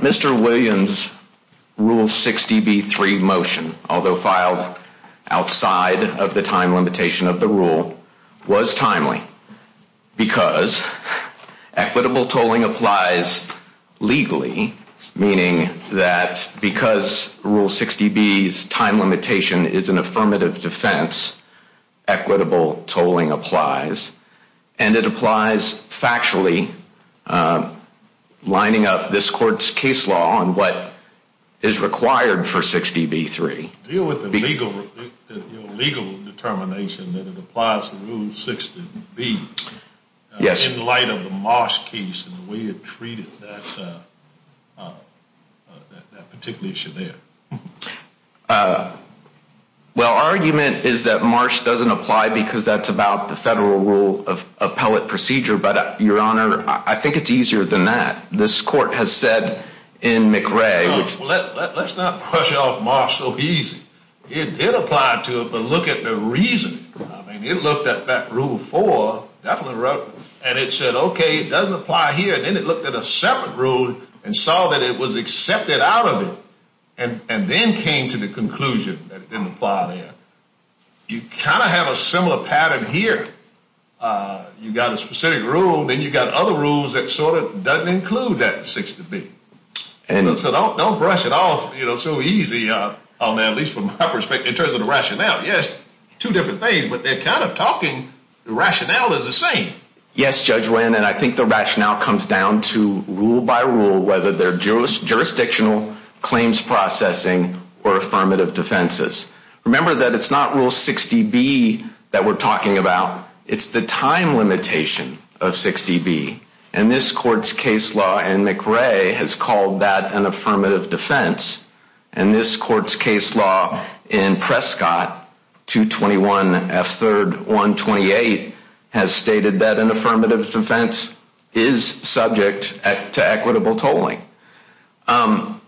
Mr. Williams' Rule 60B3 motion, although filed outside of the time limitation of the rule, was timely because equitable tolling applies legally, meaning that because of the time limitation of the rule, equitable tolling applies legally. Because Rule 60B's time limitation is an affirmative defense, equitable tolling applies, and it applies factually, lining up this court's case law on what is required for 60B3. Do you deal with the legal determination that it applies to Rule 60B in light of the Marsh case and the way it treated that particular issue there? Well, argument is that Marsh doesn't apply because that's about the federal rule of appellate procedure, but your honor, I think it's easier than that. This court has said in McRae, well, let's not brush off Marsh so easy. It did apply to it, but look at the reasoning. I mean, it looked at that Rule 4, definitely relevant, and it said, okay, it doesn't apply here, and then it looked at a separate rule and saw that it was accepted out of it, and then came to the conclusion that it didn't apply there. You kind of have a similar pattern here. You got a specific rule, then you got other rules that sort of doesn't include that 60B. So don't brush it off so easy, at least from my perspective, in terms of the rationale. Yes, two different things, but they're kind of talking, the rationale is the same. Yes, Judge Winn, and I think the rationale comes down to rule by rule, whether they're jurisdictional, claims processing, or affirmative defenses. Remember that it's not Rule 60B that we're talking about. It's the time limitation of 60B, and this court's case law in McRae has called that an affirmative defense, and this court's case law in Prescott, 221 F3rd 128, has stated that an affirmative defense is subject to equitable tolling. I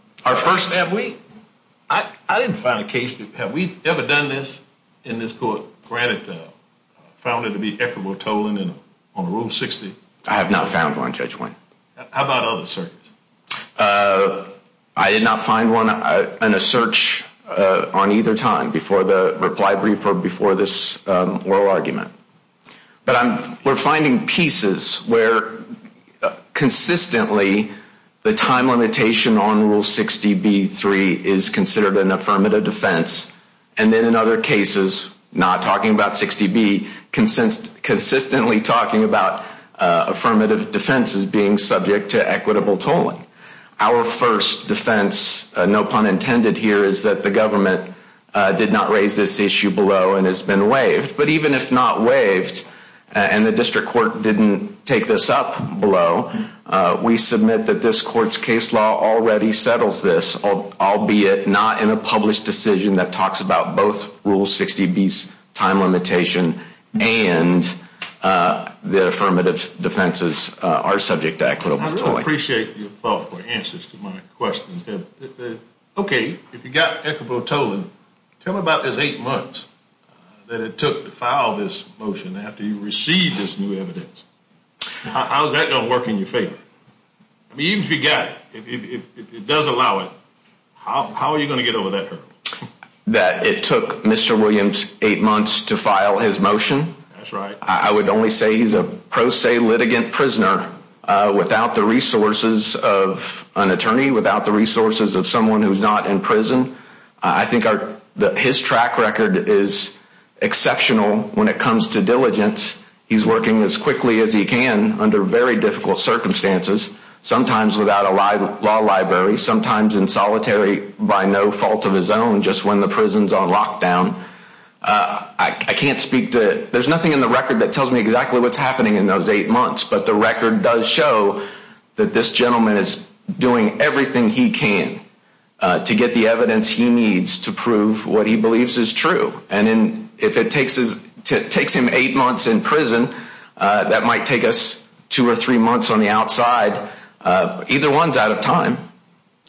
didn't find a case, have we ever done this in this court, granted, found it to be equitable tolling on Rule 60? I have not found one, Judge Winn. How about other searches? I did not find one in a search on either time before the reply brief or before this oral argument. But we're finding pieces where consistently the time limitation on Rule 60B3 is considered an affirmative defense, and then in other cases, not talking about 60B, consistently talking about affirmative defenses being subject to equitable tolling. Our first defense, no pun intended here, is that the government did not raise this issue below and has been waived. But even if not waived and the district court didn't take this up below, we submit that this court's case law already settles this, albeit not in a published decision that talks about both Rule 60B's time limitation and the affirmative defenses are subject to equitable tolling. I really appreciate your thoughtful answers to my questions. Okay, if you got equitable tolling, tell me about those eight months that it took to file this motion after you received this new evidence. How's that going to work in your favor? I mean, even if you got it, if it does allow it, how are you going to get over that hurdle? That it took Mr. Williams eight months to file his motion? That's right. I would only say he's a pro se litigant prisoner without the resources of an attorney, without the resources of someone who's not in prison. I think his track record is exceptional when it comes to diligence. He's working as quickly as he can under very difficult circumstances, sometimes without a law library, sometimes in solitary by no fault of his own just when the prison's on lockdown. I can't speak to, there's nothing in the record that tells me exactly what's happening in those eight months, but the record does show that this gentleman is doing everything he can to get the evidence he needs to prove what he believes is true. And if it takes him eight months in prison, that might take us two or three months on the outside. Either one's out of time.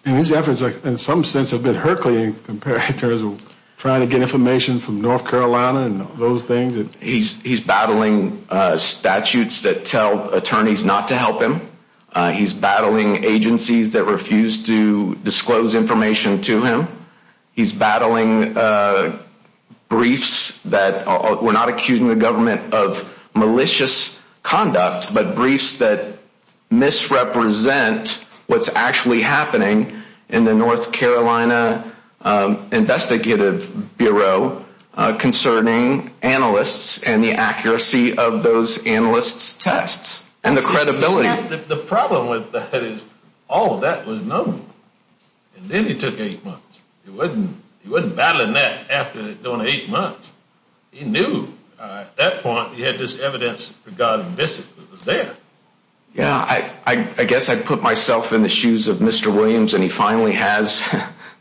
And his efforts in some sense have been herculean compared to trying to get information from North Carolina and those things. He's battling statutes that tell attorneys not to help him. He's battling agencies that refuse to disclose information to him. He's battling briefs that we're not accusing the government of malicious conduct, but briefs that misrepresent what's actually happening in the North Carolina investigative bureau concerning analysts and the accuracy of those analysts' tests and the credibility. The problem with that is all of that was known. And then he took eight months. He wasn't battling that after doing eight months. He knew at that point he had this evidence for God's visit that was there. Yeah, I guess I put myself in the shoes of Mr. Williams, and he finally has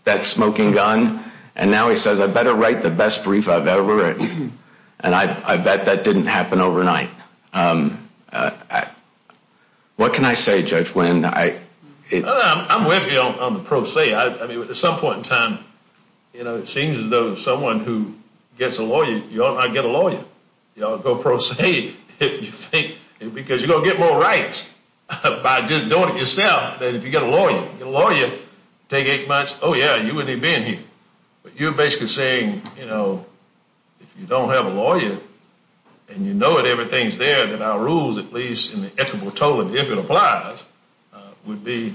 that smoking gun, and now he says I better write the best brief I've ever written. And I bet that didn't happen overnight. What can I say, Judge Williams? I'm with you on the pro se. I mean, at some point in time, you know, it seems as though someone who gets a lawyer, you ought not get a lawyer. You ought to go pro se because you're going to get more rights by just doing it yourself than if you get a lawyer. If you get a lawyer, take eight months, oh, yeah, you wouldn't even be in here. But you're basically saying, you know, if you don't have a lawyer and you know that everything's there, then our rules, at least in the equitable totem, if it applies, would be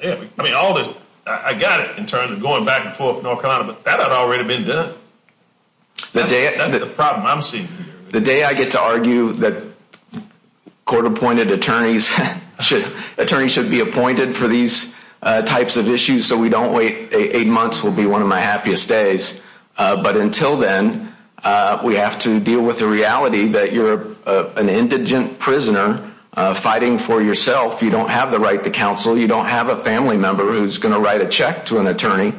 there. I mean, I got it in terms of going back and forth with North Carolina, but that had already been done. That's the problem I'm seeing here. The day I get to argue that court-appointed attorneys should be appointed for these types of issues so we don't wait eight months will be one of my happiest days. But until then, we have to deal with the reality that you're an indigent prisoner fighting for yourself. You don't have the right to counsel. You don't have a family member who's going to write a check to an attorney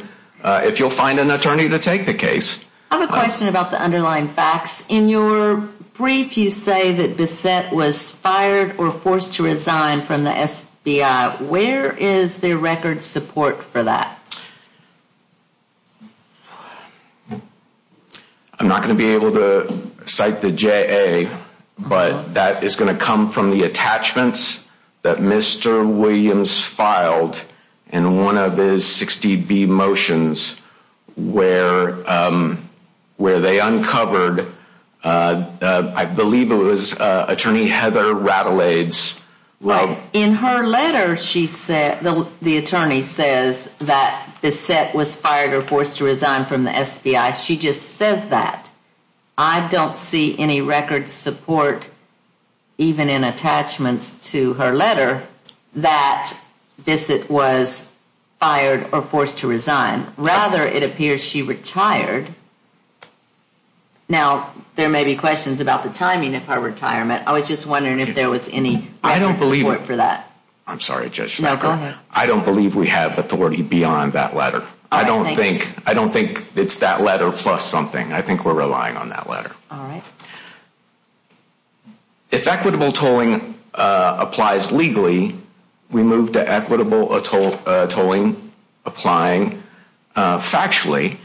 if you'll find an attorney to take the case. I have a question about the underlying facts. In your brief, you say that Bissette was fired or forced to resign from the FBI. Where is the record support for that? I'm not going to be able to cite the JA, but that is going to come from the attachments that Mr. Williams filed in one of his 60B motions where they uncovered, I believe it was Attorney Heather Radelaids. In her letter, the attorney says that Bissette was fired or forced to resign from the FBI. She just says that. I don't see any record support even in attachments to her letter that Bissette was fired or forced to resign. Rather, it appears she retired. Now, there may be questions about the timing of her retirement. I was just wondering if there was any record support for that. I don't believe it. I'm sorry, Judge Schenker. No, go ahead. I don't believe we have authority beyond that letter. I don't think it's that letter plus something. I think we're relying on that letter. All right. If equitable tolling applies legally, we move to equitable tolling applying factually.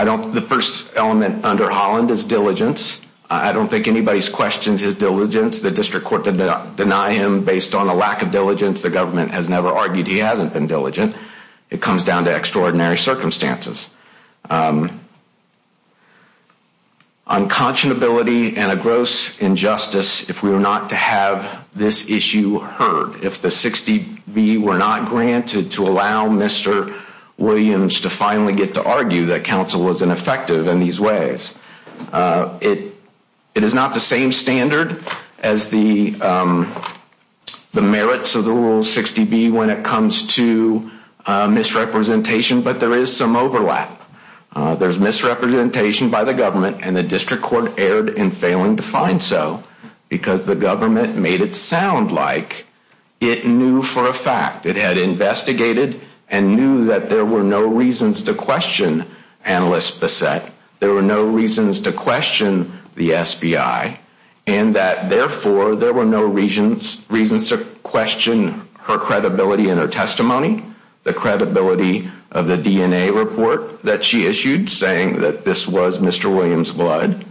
The first element under Holland is diligence. I don't think anybody's questions his diligence. The district court did not deny him based on a lack of diligence. The government has never argued he hasn't been diligent. It comes down to extraordinary circumstances. Unconscionability and a gross injustice if we were not to have this issue heard, if the 60B were not granted to allow Mr. Williams to finally get to argue that counsel was ineffective in these ways. It is not the same standard as the merits of the Rule 60B when it comes to misrepresentation, but there is some overlap. There's misrepresentation by the government, and the district court erred in failing to find so because the government made it sound like it knew for a fact. It had investigated and knew that there were no reasons to question Analyst Bessette. There were no reasons to question the SBI, and that therefore there were no reasons to question her credibility in her testimony, the credibility of the DNA report that she issued saying that this was Mr. Williams' blood,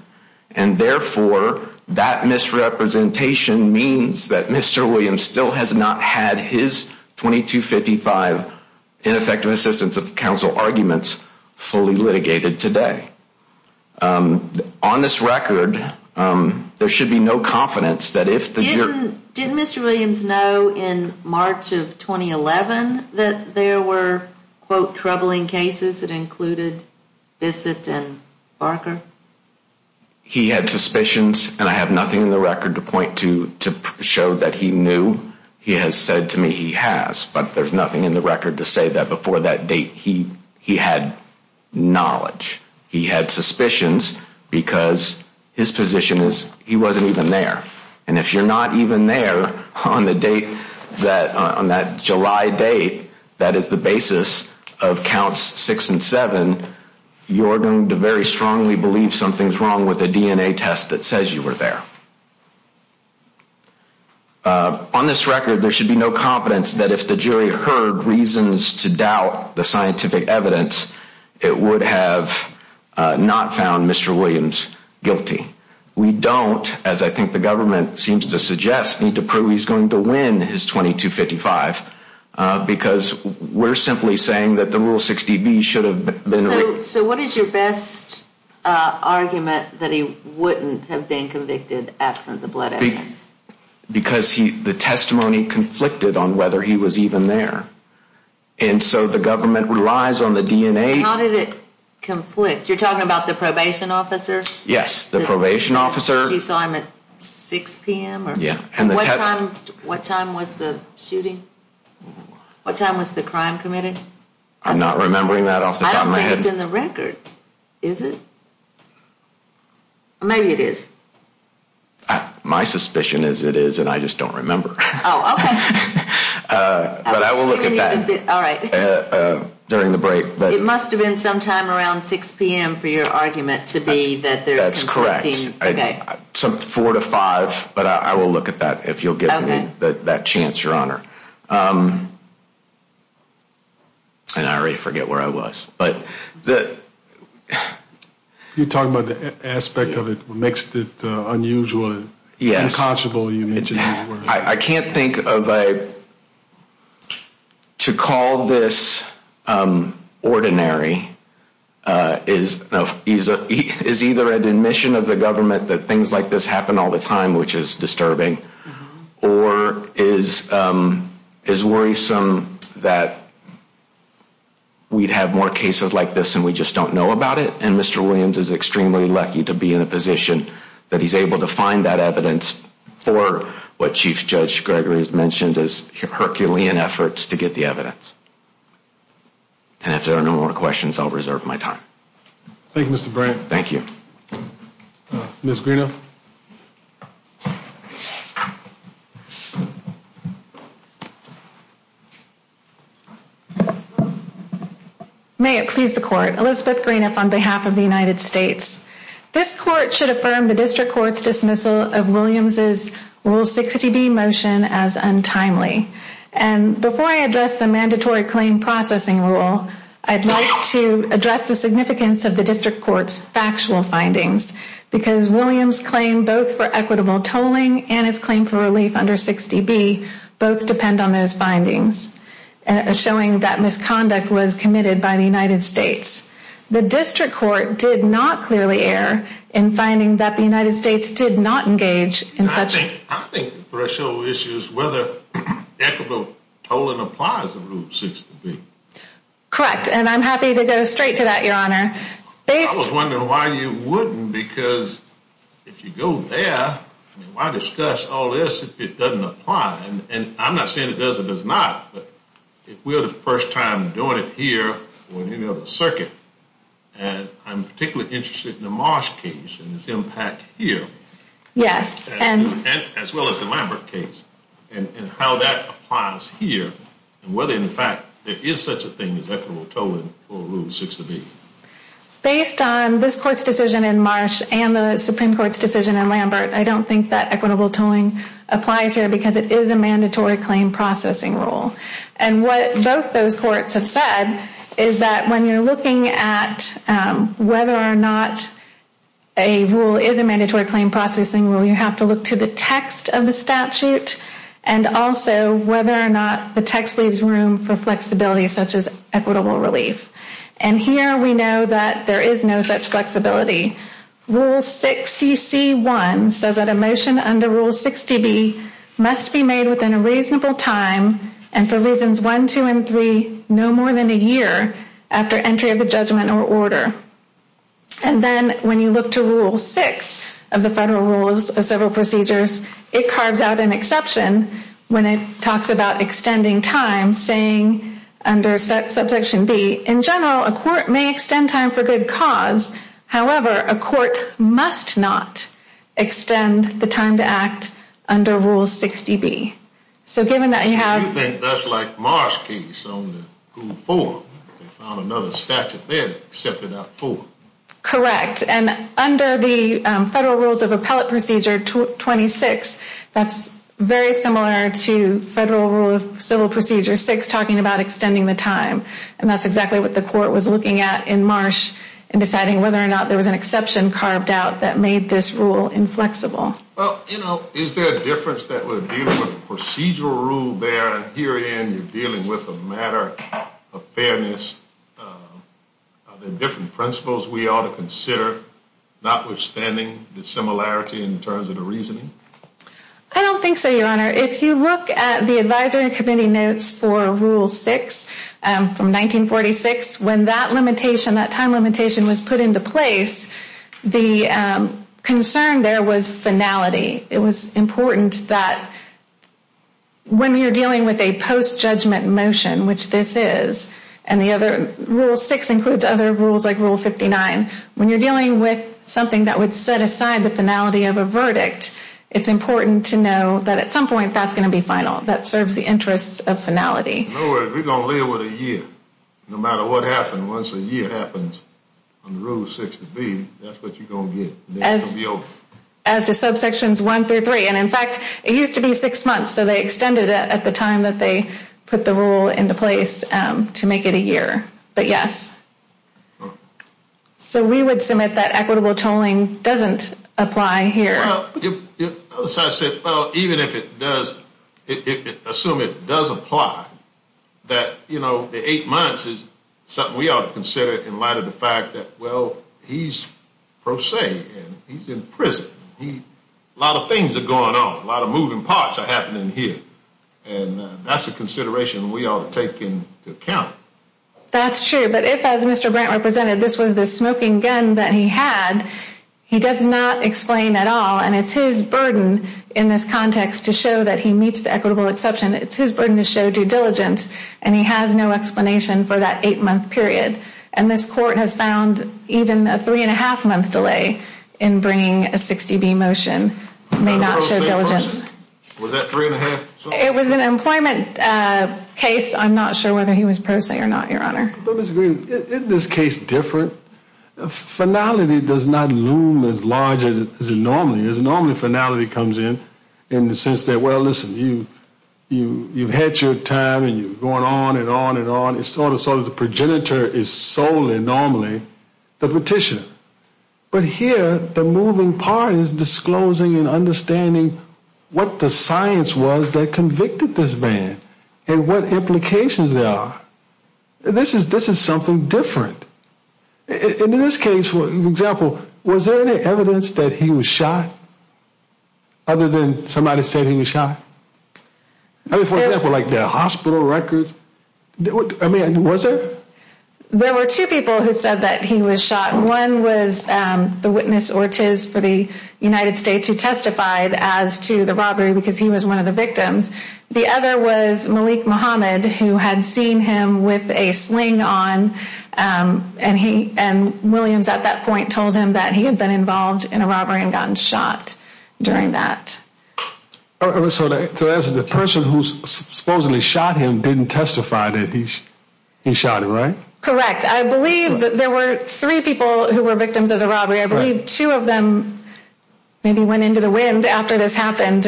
and therefore that misrepresentation means that Mr. Williams still has not had his 2255 ineffective assistance of counsel arguments fully litigated today. On this record, there should be no confidence that if the district court Didn't Mr. Williams know in March of 2011 that there were, quote, troubling cases that included Bessette and Barker? He had suspicions, and I have nothing in the record to point to to show that he knew. He has said to me he has, but there's nothing in the record to say that before that date he had knowledge. He had suspicions because his position is he wasn't even there, and if you're not even there on that July date that is the basis of counts six and seven, you're going to very strongly believe something's wrong with the DNA test that says you were there. On this record, there should be no confidence that if the jury heard reasons to doubt the scientific evidence, it would have not found Mr. Williams guilty. We don't, as I think the government seems to suggest, need to prove he's going to win his 2255 because we're simply saying that the Rule 60B should have been. So what is your best argument that he wouldn't have been convicted absent the blood evidence? Because the testimony conflicted on whether he was even there, and so the government relies on the DNA. How did it conflict? You're talking about the probation officer? Yes, the probation officer. You saw him at 6 p.m.? Yeah. What time was the shooting? What time was the crime committed? I'm not remembering that off the top of my head. I don't think it's in the record, is it? Maybe it is. My suspicion is it is, and I just don't remember. Oh, okay. But I will look at that during the break. It must have been sometime around 6 p.m. for your argument to be that there's conflicting. Four to five, but I will look at that if you'll give me that chance, Your Honor. And I already forget where I was. You're talking about the aspect of it makes it unusual, unconscionable, you mentioned that word. I can't think of a, to call this ordinary is either an admission of the government that things like this happen all the time, which is disturbing, or is worrisome that we'd have more cases like this and we just don't know about it, and Mr. Williams is extremely lucky to be in a position that he's able to find that evidence for what Chief Judge Gregory has mentioned as Herculean efforts to get the evidence. And if there are no more questions, I'll reserve my time. Thank you, Mr. Brandt. Thank you. Ms. Greenough. May it please the court. Elizabeth Greenough on behalf of the United States. This court should affirm the district court's dismissal of Williams' Rule 60B motion as untimely. And before I address the mandatory claim processing rule, I'd like to address the significance of the district court's factual findings, because Williams' claim both for equitable tolling and his claim for relief under 60B both depend on those findings, showing that misconduct was committed by the United States. The district court did not clearly err in finding that the United States did not engage in such. I think the threshold issue is whether equitable tolling applies to Rule 60B. Correct, and I'm happy to go straight to that, Your Honor. I was wondering why you wouldn't, because if you go there, why discuss all this if it doesn't apply? And I'm not saying it does or does not, but if we're the first time doing it here or in any other circuit, and I'm particularly interested in the Marsh case and its impact here. Yes. As well as the Lambert case and how that applies here and whether in fact there is such a thing as equitable tolling for Rule 60B. Based on this court's decision in Marsh and the Supreme Court's decision in Lambert, I don't think that equitable tolling applies here because it is a mandatory claim processing rule. And what both those courts have said is that when you're looking at whether or not a rule is a mandatory claim processing rule, you have to look to the text of the statute and also whether or not the text leaves room for flexibility such as equitable relief. And here we know that there is no such flexibility. Rule 60C1 says that a motion under Rule 60B must be made within a reasonable time and for reasons 1, 2, and 3 no more than a year after entry of the judgment or order. And then when you look to Rule 6 of the Federal Rules of Civil Procedures, it carves out an exception when it talks about extending time saying under Subsection B, in general, a court may extend time for good cause. However, a court must not extend the time to act under Rule 60B. So given that you have— You think that's like Marsh case on Rule 4. They found another statute there except for that 4. Correct. And under the Federal Rules of Appellate Procedure 26, that's very similar to Federal Rule of Civil Procedure 6 talking about extending the time. And that's exactly what the court was looking at in Marsh in deciding whether or not there was an exception carved out that made this rule inflexible. Well, you know, is there a difference that would deal with procedural rule there? And herein you're dealing with a matter of fairness. Are there different principles we ought to consider, notwithstanding the similarity in terms of the reasoning? I don't think so, Your Honor. If you look at the advisory committee notes for Rule 6 from 1946, when that limitation, that time limitation, was put into place, the concern there was finality. It was important that when you're dealing with a post-judgment motion, which this is, and the other—Rule 6 includes other rules like Rule 59. When you're dealing with something that would set aside the finality of a verdict, it's important to know that at some point that's going to be final. That serves the interests of finality. In other words, we're going to live with it a year. No matter what happens, once a year happens under Rule 60B, that's what you're going to get. As the subsections 1 through 3. And, in fact, it used to be six months. So they extended it at the time that they put the rule into place to make it a year. But yes. So we would submit that equitable tolling doesn't apply here. Well, even if it does, assume it does apply, that, you know, the eight months is something we ought to consider in light of the fact that, well, he's pro se and he's in prison. A lot of things are going on. A lot of moving parts are happening here. And that's a consideration we ought to take into account. That's true. But if, as Mr. Brandt represented, this was the smoking gun that he had, he does not explain at all. And it's his burden in this context to show that he meets the equitable exception. It's his burden to show due diligence. And he has no explanation for that eight-month period. And this court has found even a three-and-a-half-month delay in bringing a 60B motion may not show diligence. Was that three-and-a-half? It was an employment case. I'm not sure whether he was pro se or not, Your Honor. But, Ms. Green, isn't this case different? Finality does not loom as large as it normally is. Normally finality comes in in the sense that, well, listen, you've had your time and you're going on and on and on. It's sort of the progenitor is solely normally the petitioner. But here the moving part is disclosing and understanding what the science was that convicted this man and what implications there are. This is something different. In this case, for example, was there any evidence that he was shot other than somebody said he was shot? I mean, for example, like the hospital records. I mean, was there? There were two people who said that he was shot. One was the witness, Ortiz, for the United States who testified as to the robbery because he was one of the victims. The other was Malik Muhammad who had seen him with a sling on, and Williams at that point told him that he had been involved in a robbery and gotten shot during that. So the person who supposedly shot him didn't testify that he shot him, right? Correct. I believe that there were three people who were victims of the robbery. I believe two of them maybe went into the wind after this happened.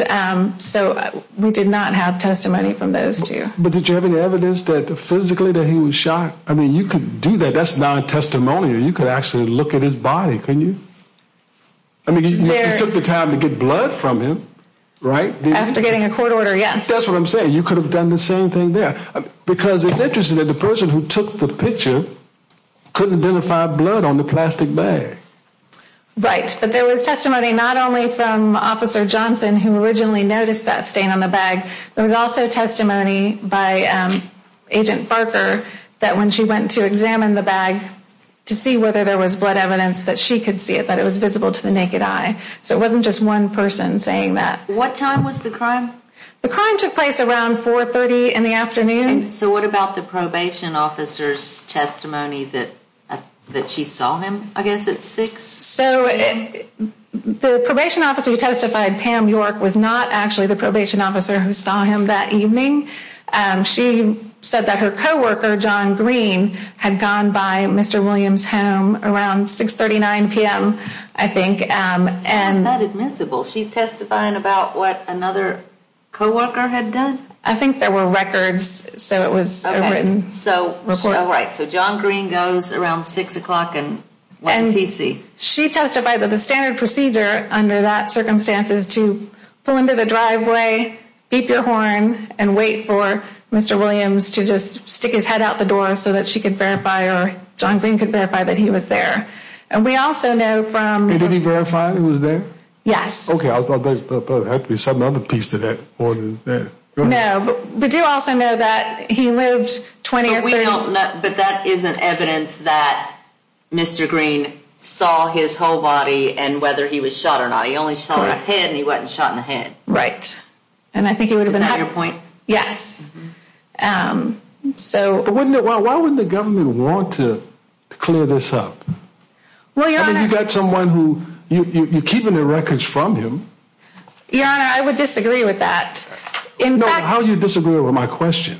So we did not have testimony from those two. But did you have any evidence that physically that he was shot? I mean, you could do that. That's not a testimony. You could actually look at his body, couldn't you? I mean, you took the time to get blood from him, right? After getting a court order, yes. That's what I'm saying. You could have done the same thing there. Because it's interesting that the person who took the picture couldn't identify blood on the plastic bag. Right. But there was testimony not only from Officer Johnson who originally noticed that stain on the bag. There was also testimony by Agent Barker that when she went to examine the bag to see whether there was blood evidence that she could see it, that it was visible to the naked eye. So it wasn't just one person saying that. What time was the crime? The crime took place around 4.30 in the afternoon. So what about the probation officer's testimony that she saw him, I guess, at 6? So the probation officer who testified, Pam York, was not actually the probation officer who saw him that evening. She said that her co-worker, John Green, had gone by Mr. Williams' home around 6.39 p.m., I think. How is that admissible? She's testifying about what another co-worker had done? I think there were records, so it was a written report. So John Green goes around 6 o'clock and what does he see? She testified that the standard procedure under that circumstance is to pull into the driveway, beep your horn, and wait for Mr. Williams to just stick his head out the door so that she could verify or John Green could verify that he was there. And we also know from... Did he verify he was there? Yes. Okay, I thought there had to be some other piece to that. But that isn't evidence that Mr. Green saw his whole body and whether he was shot or not. He only saw his head and he wasn't shot in the head. Right. And I think it would have been... Is that your point? Yes. So... Why wouldn't the government want to clear this up? Well, Your Honor... I mean, you've got someone who, you're keeping the records from him. Your Honor, I would disagree with that. No, how do you disagree with my question?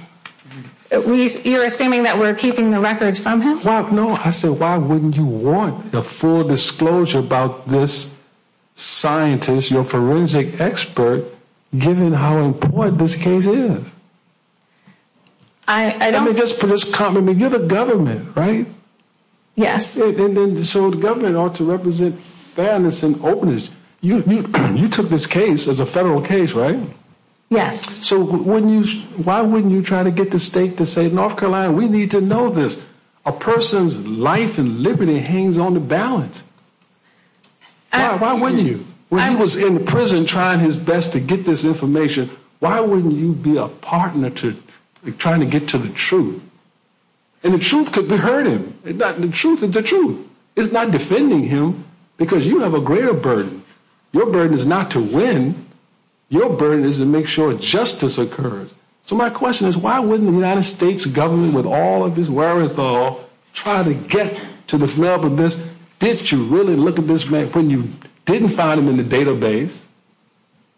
You're assuming that we're keeping the records from him? Well, no. I said, why wouldn't you want a full disclosure about this scientist, your forensic expert, given how important this case is? I don't... Let me just put this... You're the government, right? Yes. So the government ought to represent fairness and openness. You took this case as a federal case, right? Yes. So why wouldn't you try to get the state to say, North Carolina, we need to know this. A person's life and liberty hangs on the balance. Why wouldn't you? When he was in prison trying his best to get this information, why wouldn't you be a partner to trying to get to the truth? And the truth could be hurting him. The truth is the truth. It's not defending him because you have a greater burden. Your burden is not to win. Your burden is to make sure justice occurs. So my question is, why wouldn't the United States government, with all of its wherewithal, try to get to the smell of this? Did you really look at this man when you didn't find him in the database?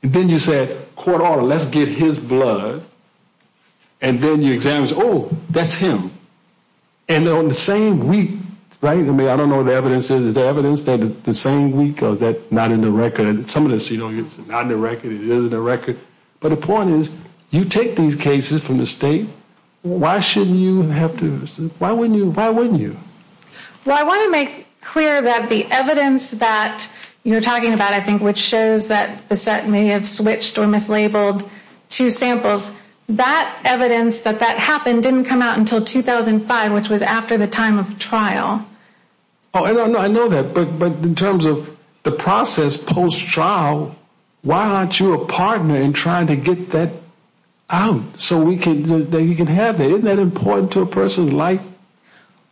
And then you said, court order, let's get his blood. And then you examine, oh, that's him. And on the same week, right? I mean, I don't know what the evidence is. Is the evidence the same week or is that not in the record? It's not in the record. It is in the record. But the point is, you take these cases from the state. Why shouldn't you have to? Why wouldn't you? Why wouldn't you? Well, I want to make clear that the evidence that you're talking about, I think, which shows that Bassett may have switched or mislabeled two samples, that evidence that that happened didn't come out until 2005, which was after the time of trial. I know that, but in terms of the process post-trial, why aren't you a partner in trying to get that out so that you can have it? Isn't that important to a person's life?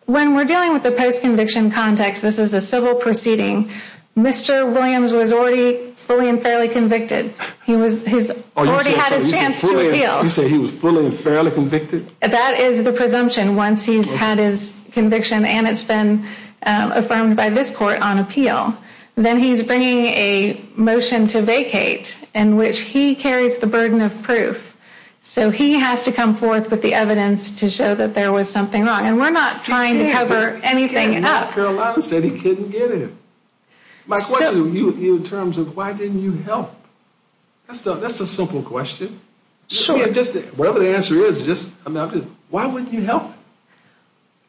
When we're dealing with the post-conviction context, this is a civil proceeding. Mr. Williams was already fully and fairly convicted. He already had his chance to appeal. You said he was fully and fairly convicted? That is the presumption. Once he's had his conviction and it's been affirmed by this court on appeal, then he's bringing a motion to vacate in which he carries the burden of proof. So he has to come forth with the evidence to show that there was something wrong. And we're not trying to cover anything up. Carolina said he couldn't get it. My question to you in terms of why didn't you help, that's a simple question. Sure. Whatever the answer is, why wouldn't you help?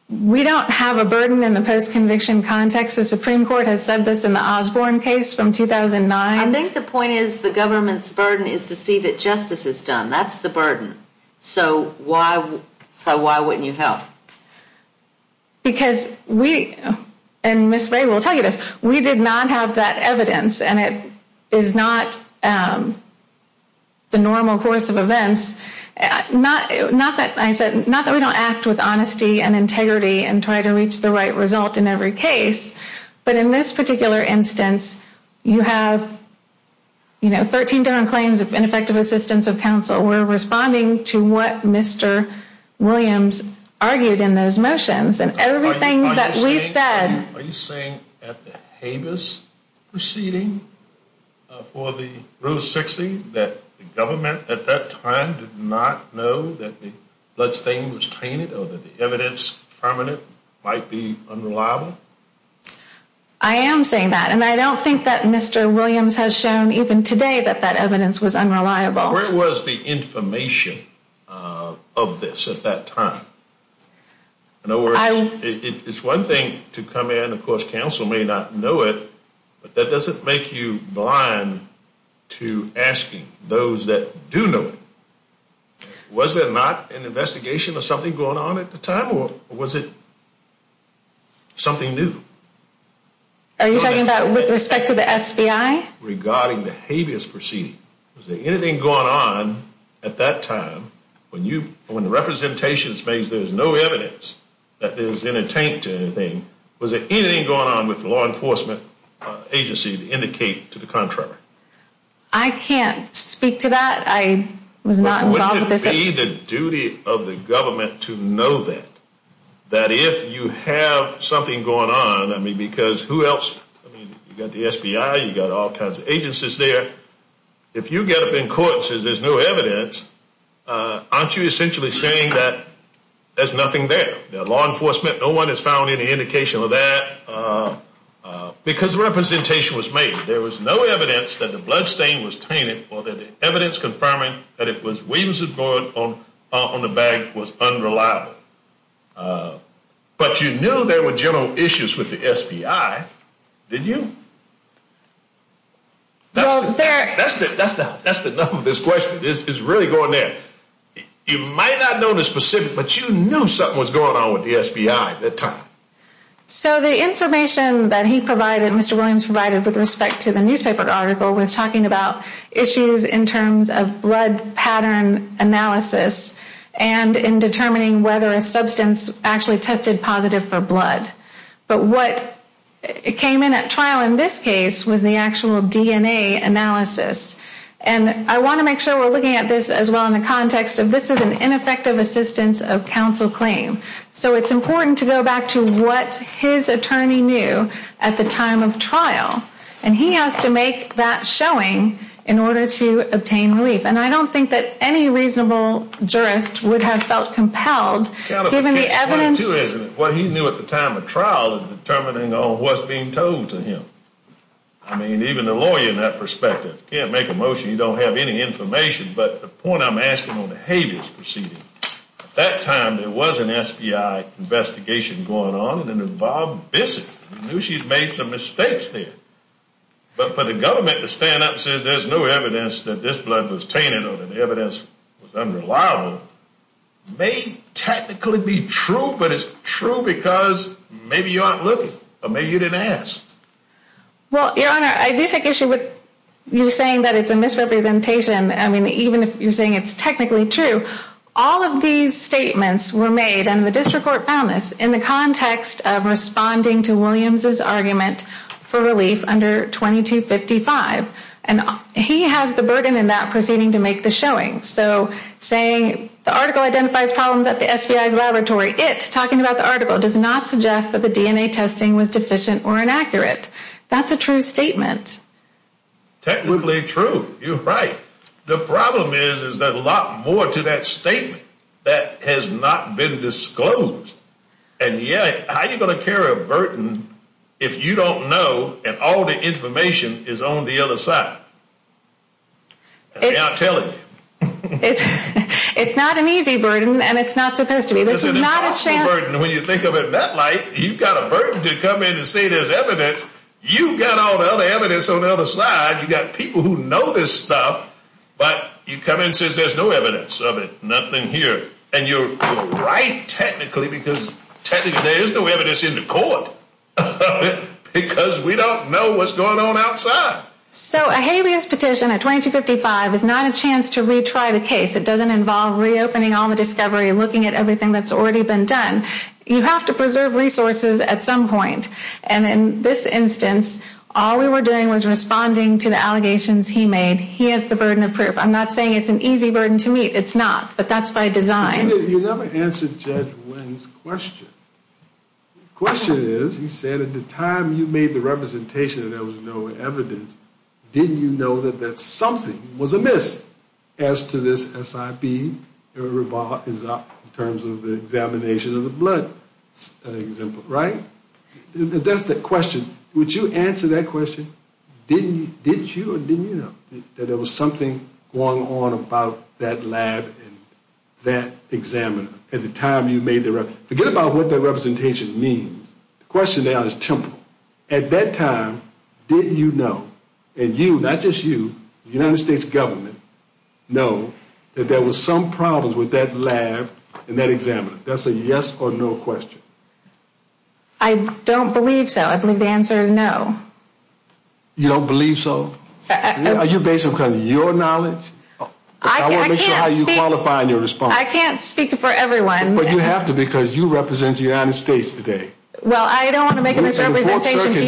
We don't have a burden in the post-conviction context. The Supreme Court has said this in the Osborne case from 2009. I think the point is the government's burden is to see that justice is done. That's the burden. So why wouldn't you help? Because we, and Ms. Ray will tell you this, we did not have that evidence. And it is not the normal course of events. Not that we don't act with honesty and integrity and try to reach the right result in every case. But in this particular instance, you have 13 different claims of ineffective assistance of counsel. We're responding to what Mr. Williams argued in those motions. Are you saying at the Habeas proceeding for the Rule 60 that the government at that time did not know that the bloodstain was tainted or that the evidence from it might be unreliable? I am saying that. And I don't think that Mr. Williams has shown even today that that evidence was unreliable. Where was the information of this at that time? In other words, it's one thing to come in. Of course, counsel may not know it. But that doesn't make you blind to asking those that do know it. Was there not an investigation of something going on at the time? Or was it something new? Are you talking about with respect to the FBI? Regarding the Habeas proceeding. Was there anything going on at that time when the representations made there was no evidence that it was in a taint to anything? Was there anything going on with the law enforcement agency to indicate to the contrary? I can't speak to that. I was not involved with this. Wouldn't it be the duty of the government to know that? That if you have something going on, I mean, because who else? You've got the FBI. You've got all kinds of agencies there. If you get up in court and say there's no evidence, aren't you essentially saying that there's nothing there? The law enforcement, no one has found any indication of that. Because the representation was made, there was no evidence that the bloodstain was tainted or that the evidence confirming that it was Williamson's blood on the bag was unreliable. But you knew there were general issues with the FBI, didn't you? That's the number of this question. It's really going there. You might not know the specifics, but you knew something was going on with the FBI at that time. So the information that he provided, Mr. Williams provided with respect to the newspaper article was talking about issues in terms of blood pattern analysis But what came in at trial in this case was the actual DNA analysis. And I want to make sure we're looking at this as well in the context of this is an ineffective assistance of counsel claim. So it's important to go back to what his attorney knew at the time of trial. And he has to make that showing in order to obtain relief. And I don't think that any reasonable jurist would have felt compelled given the evidence. What he knew at the time of trial is determining on what's being told to him. I mean, even a lawyer in that perspective can't make a motion you don't have any information. But the point I'm asking on the Havis proceeding, at that time there was an FBI investigation going on and it involved Bissett. I know she's made some mistakes there. But for the government to stand up and say there's no evidence that this blood was tainted or that the evidence was unreliable may technically be true, but it's true because maybe you aren't looking or maybe you didn't ask. Well, Your Honor, I do take issue with you saying that it's a misrepresentation. I mean, even if you're saying it's technically true, all of these statements were made and the district court found this in the context of responding to Williams' argument for relief under 2255. And he has the burden in that proceeding to make the showing. So saying the article identifies problems at the FBI's laboratory. It, talking about the article, does not suggest that the DNA testing was deficient or inaccurate. That's a true statement. Technically true. You're right. The problem is there's a lot more to that statement that has not been disclosed. And yet, how are you going to carry a burden if you don't know and all the information is on the other side? I'm telling you. It's not an easy burden and it's not supposed to be. This is an impossible burden when you think of it in that light. You've got a burden to come in and say there's evidence. You've got all the other evidence on the other side. You've got people who know this stuff, but you come in and say there's no evidence of it, nothing here. And you're right, technically, because technically there is no evidence in the court because we don't know what's going on outside. So a habeas petition at 2255 is not a chance to retry the case. It doesn't involve reopening all the discovery and looking at everything that's already been done. You have to preserve resources at some point. And in this instance, all we were doing was responding to the allegations he made. He has the burden of proof. I'm not saying it's an easy burden to meet. It's not, but that's by design. You never answered Judge Wynn's question. The question is, he said at the time you made the representation that there was no evidence, didn't you know that something was amiss as to this SIB in terms of the examination of the blood, right? That's the question. Would you answer that question? Did you or didn't you know that there was something going on about that lab and that examiner at the time you made the reference? Forget about what that representation means. The question now is temporal. At that time, did you know, and you, not just you, the United States government, know that there was some problems with that lab and that examiner? That's a yes or no question. I don't believe so. I believe the answer is no. You don't believe so? Are you based on your knowledge? I want to make sure how you qualify in your response. I can't speak for everyone. But you have to because you represent the United States today. Well, I don't want to make a misrepresentation to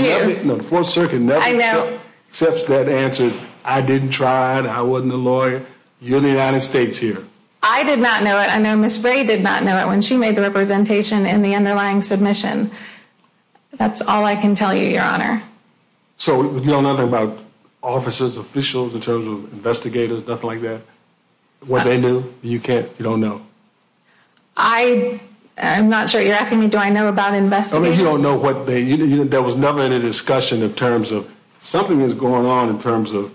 you. The Fourth Circuit never accepts dead answers. I didn't try. I wasn't a lawyer. You're the United States here. I did not know it. I know Ms. Bray did not know it when she made the representation in the underlying submission. That's all I can tell you, Your Honor. So you know nothing about officers, officials in terms of investigators, nothing like that? What they knew? You don't know? I'm not sure. You're asking me do I know about investigators? You don't know. There was never any discussion in terms of something was going on in terms of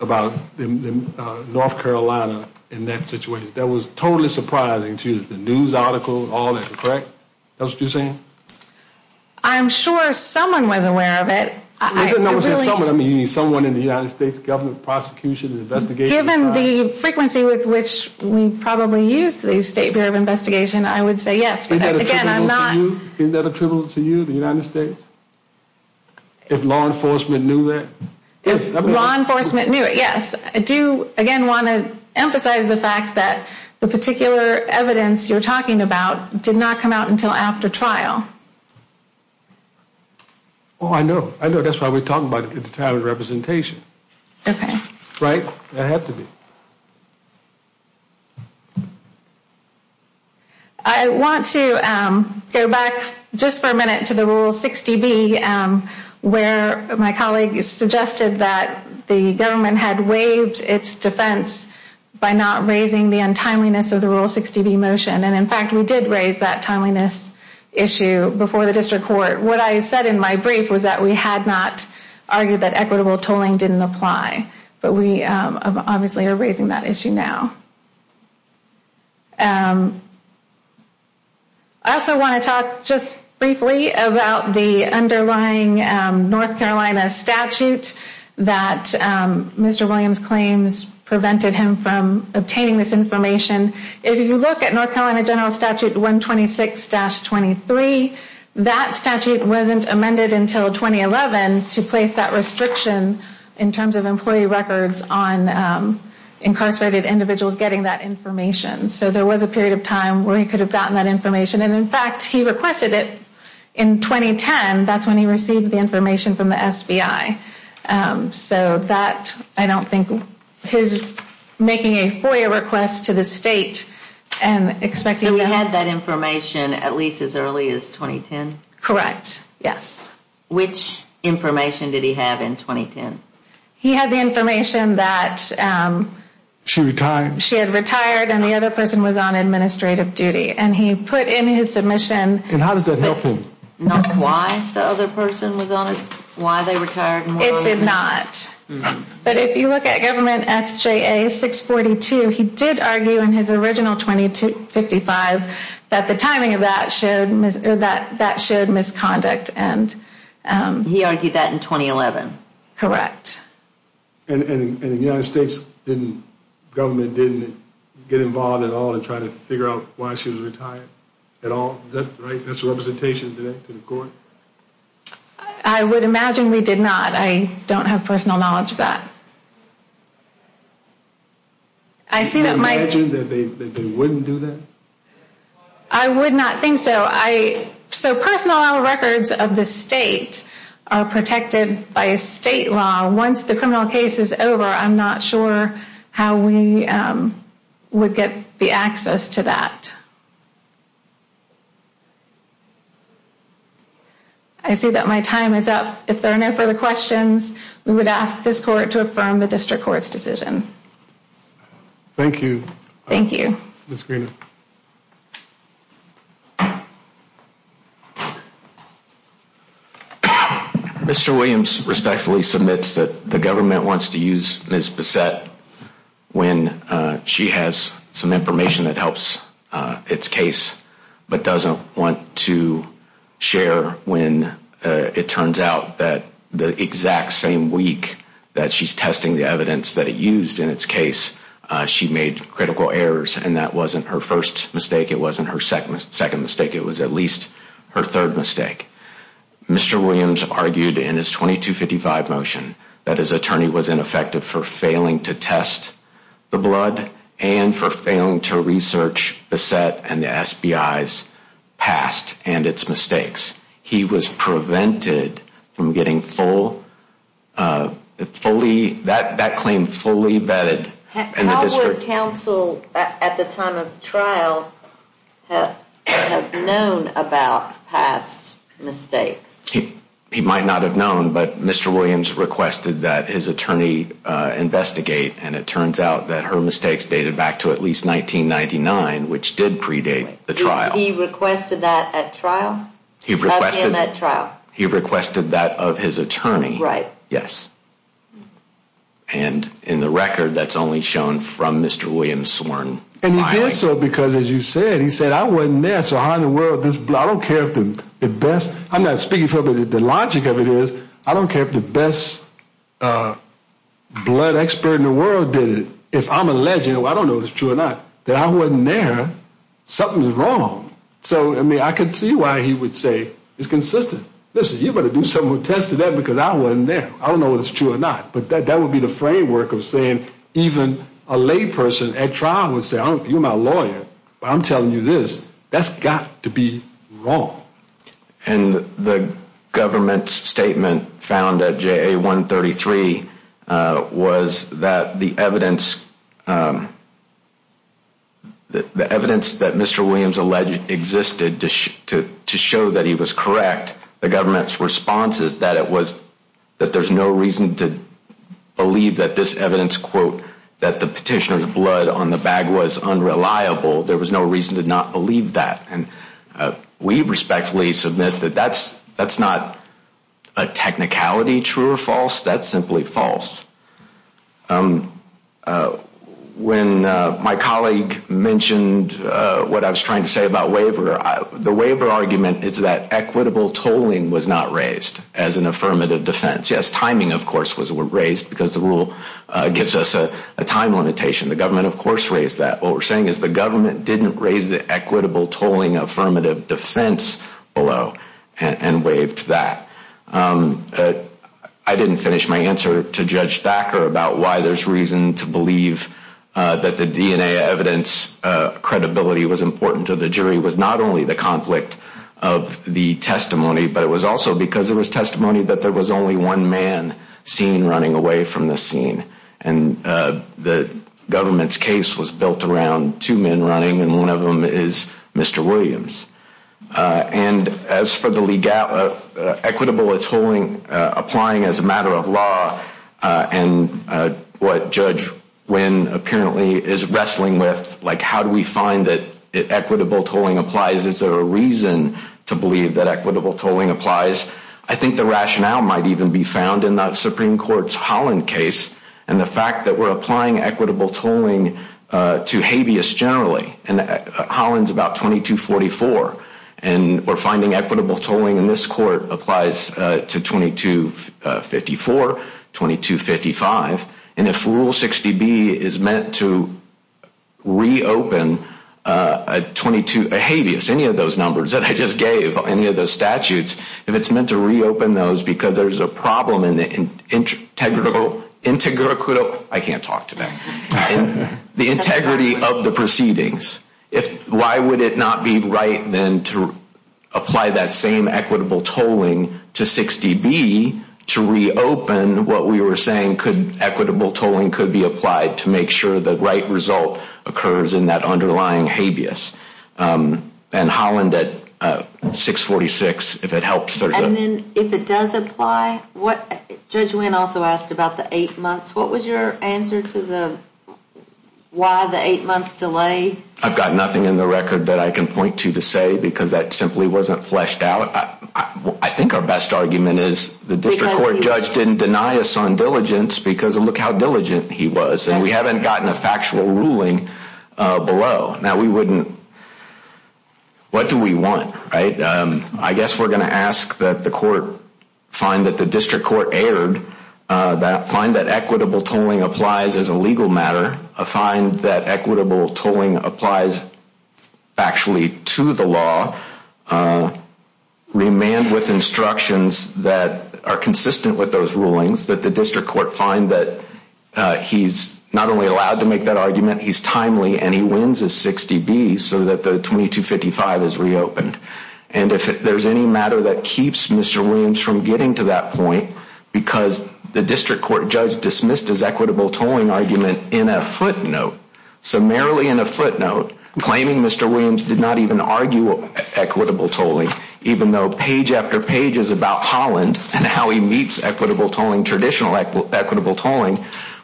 North Carolina in that situation. That was totally surprising to you, the news article, all that. Correct? That's what you're saying? I'm sure someone was aware of it. Someone in the United States government, prosecution, investigation? Given the frequency with which we probably use the State Bureau of Investigation, I would say yes. Isn't that attributable to you, the United States? If law enforcement knew that? If law enforcement knew it, yes. I do, again, want to emphasize the fact that the particular evidence you're talking about did not come out until after trial. Oh, I know. I know. That's why we're talking about it at the time of the representation. Okay. Right? It had to be. I want to go back just for a minute to the Rule 60B where my colleague suggested that the government had waived its defense by not raising the untimeliness of the Rule 60B motion. And, in fact, we did raise that timeliness issue before the district court. What I said in my brief was that we had not argued that equitable tolling didn't apply. But we obviously are raising that issue now. I also want to talk just briefly about the underlying North Carolina statute that Mr. Williams claims prevented him from obtaining this information. If you look at North Carolina General Statute 126-23, that statute wasn't amended until 2011 to place that restriction in terms of employee records on incarcerated individuals getting that information. So there was a period of time where he could have gotten that information. And, in fact, he requested it in 2010. That's when he received the information from the SBI. So that, I don't think, his making a FOIA request to the state and expecting to have So he had that information at least as early as 2010? Correct. Yes. Which information did he have in 2010? He had the information that She retired? She had retired and the other person was on administrative duty. And he put in his submission And how does that help him? Not why the other person was on it? Why they retired? It did not. But if you look at Government S.J.A. 642, he did argue in his original 2255 that the timing of that showed misconduct. He argued that in 2011? Correct. And the United States government didn't get involved at all in trying to figure out why she was retired at all? Is that right? That's a representation to the court? I would imagine we did not. I don't have personal knowledge of that. Can you imagine that they wouldn't do that? I would not think so. So personal records of the state are protected by state law. Once the criminal case is over, I'm not sure how we would get the access to that. I see that my time is up. If there are no further questions, we would ask this court to affirm the district court's decision. Thank you. Thank you. Ms. Green. Mr. Williams respectfully submits that the government wants to use Ms. Bissette when she has some information that helps its case, but doesn't want to share when it turns out that the exact same week that she's testing the evidence that it used in its case, she made critical errors and that wasn't her first mistake. It wasn't her second mistake. It was at least her third mistake. Mr. Williams argued in his 2255 motion that his attorney was ineffective for failing to test the blood and for failing to research Bissette and the SBIs past and its mistakes. He was prevented from getting that claim fully vetted in the district. Would counsel at the time of trial have known about past mistakes? He might not have known, but Mr. Williams requested that his attorney investigate, and it turns out that her mistakes dated back to at least 1999, which did predate the trial. He requested that at trial? He requested that of his attorney. Right. Yes. And in the record that's only shown from Mr. Williams sworn. And he did so because, as you said, he said, I wasn't there, so how in the world, I don't care if the best, I'm not speaking for the logic of it is, I don't care if the best blood expert in the world did it. If I'm alleged, I don't know if it's true or not, that I wasn't there, something is wrong. So, I mean, I can see why he would say it's consistent. Listen, you better do something with testing that because I wasn't there. I don't know if it's true or not, but that would be the framework of saying even a layperson at trial would say, you're my lawyer, but I'm telling you this, that's got to be wrong. And the government's statement found at JA133 was that the evidence that Mr. Williams alleged existed to show that he was correct, the government's response is that it was, that there's no reason to believe that this evidence, quote, that the petitioner's blood on the bag was unreliable. There was no reason to not believe that. And we respectfully submit that that's not a technicality, true or false, that's simply false. When my colleague mentioned what I was trying to say about waiver, the waiver argument is that equitable tolling was not raised as an affirmative defense. Yes, timing, of course, was raised because the rule gives us a time limitation. The government, of course, raised that. What we're saying is the government didn't raise the equitable tolling affirmative defense below and waived that. I didn't finish my answer to Judge Thacker about why there's reason to believe that the DNA evidence credibility was important to the jury. It was not only the conflict of the testimony, but it was also because it was testimony that there was only one man seen running away from the scene. And the government's case was built around two men running, and one of them is Mr. Williams. And as for the legality, equitable tolling applying as a matter of law, and what Judge Wynn apparently is wrestling with, like, how do we find that equitable tolling applies? Is there a reason to believe that equitable tolling applies? I think the rationale might even be found in the Supreme Court's Holland case and the fact that we're applying equitable tolling to habeas generally. And Holland's about 2244. And we're finding equitable tolling in this court applies to 2254, 2255. And if Rule 60B is meant to reopen a habeas, any of those numbers that I just gave, any of those statutes, if it's meant to reopen those because there's a problem in the integrity of the proceedings, why would it not be right then to apply that same equitable tolling to 60B to reopen what we were saying equitable tolling could be applied to make sure the right result occurs in that underlying habeas? And Holland at 646, if it helps. And then if it does apply, Judge Wynn also asked about the eight months. What was your answer to the why the eight-month delay? I've got nothing in the record that I can point to to say because that simply wasn't fleshed out. I think our best argument is the district court judge didn't deny us on diligence because look how diligent he was. And we haven't gotten a factual ruling below. Now, we wouldn't, what do we want, right? I guess we're going to ask that the court find that the district court erred, find that equitable tolling applies as a legal matter, find that equitable tolling applies factually to the law, remand with instructions that are consistent with those rulings, that the district court find that he's not only allowed to make that argument, he's timely and he wins his 60B so that the 2255 is reopened. And if there's any matter that keeps Mr. Williams from getting to that point, because the district court judge dismissed his equitable tolling argument in a footnote, so merely in a footnote claiming Mr. Williams did not even argue equitable tolling, even though page after page is about Holland and how he meets equitable tolling, traditional equitable tolling,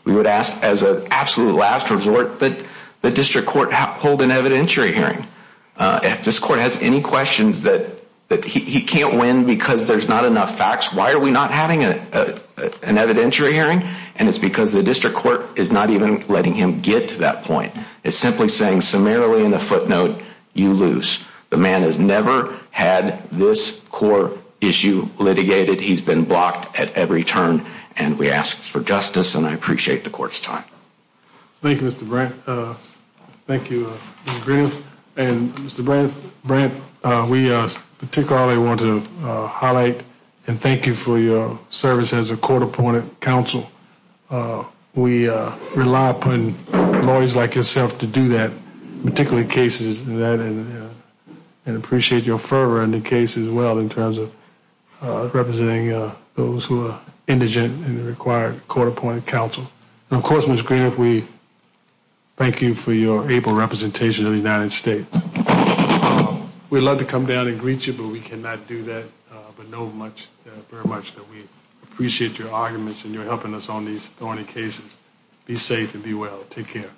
we would ask as an absolute last resort that the district court hold an evidentiary hearing. If this court has any questions that he can't win because there's not enough facts, why are we not having an evidentiary hearing? And it's because the district court is not even letting him get to that point. It's simply saying summarily in a footnote, you lose. The man has never had this core issue litigated. He's been blocked at every turn. And we ask for justice, and I appreciate the court's time. Thank you, Mr. Brandt. Thank you, Mr. Green. And Mr. Brandt, we particularly want to highlight and thank you for your service as a court-appointed counsel. We rely upon lawyers like yourself to do that, particularly cases like that, and appreciate your fervor in the case as well in terms of representing those who are indigent and require court-appointed counsel. And of course, Mr. Green, we thank you for your able representation of the United States. We'd love to come down and greet you, but we cannot do that, but know very much that we appreciate your arguments and your helping us on these thorny cases. Be safe and be well. Take care.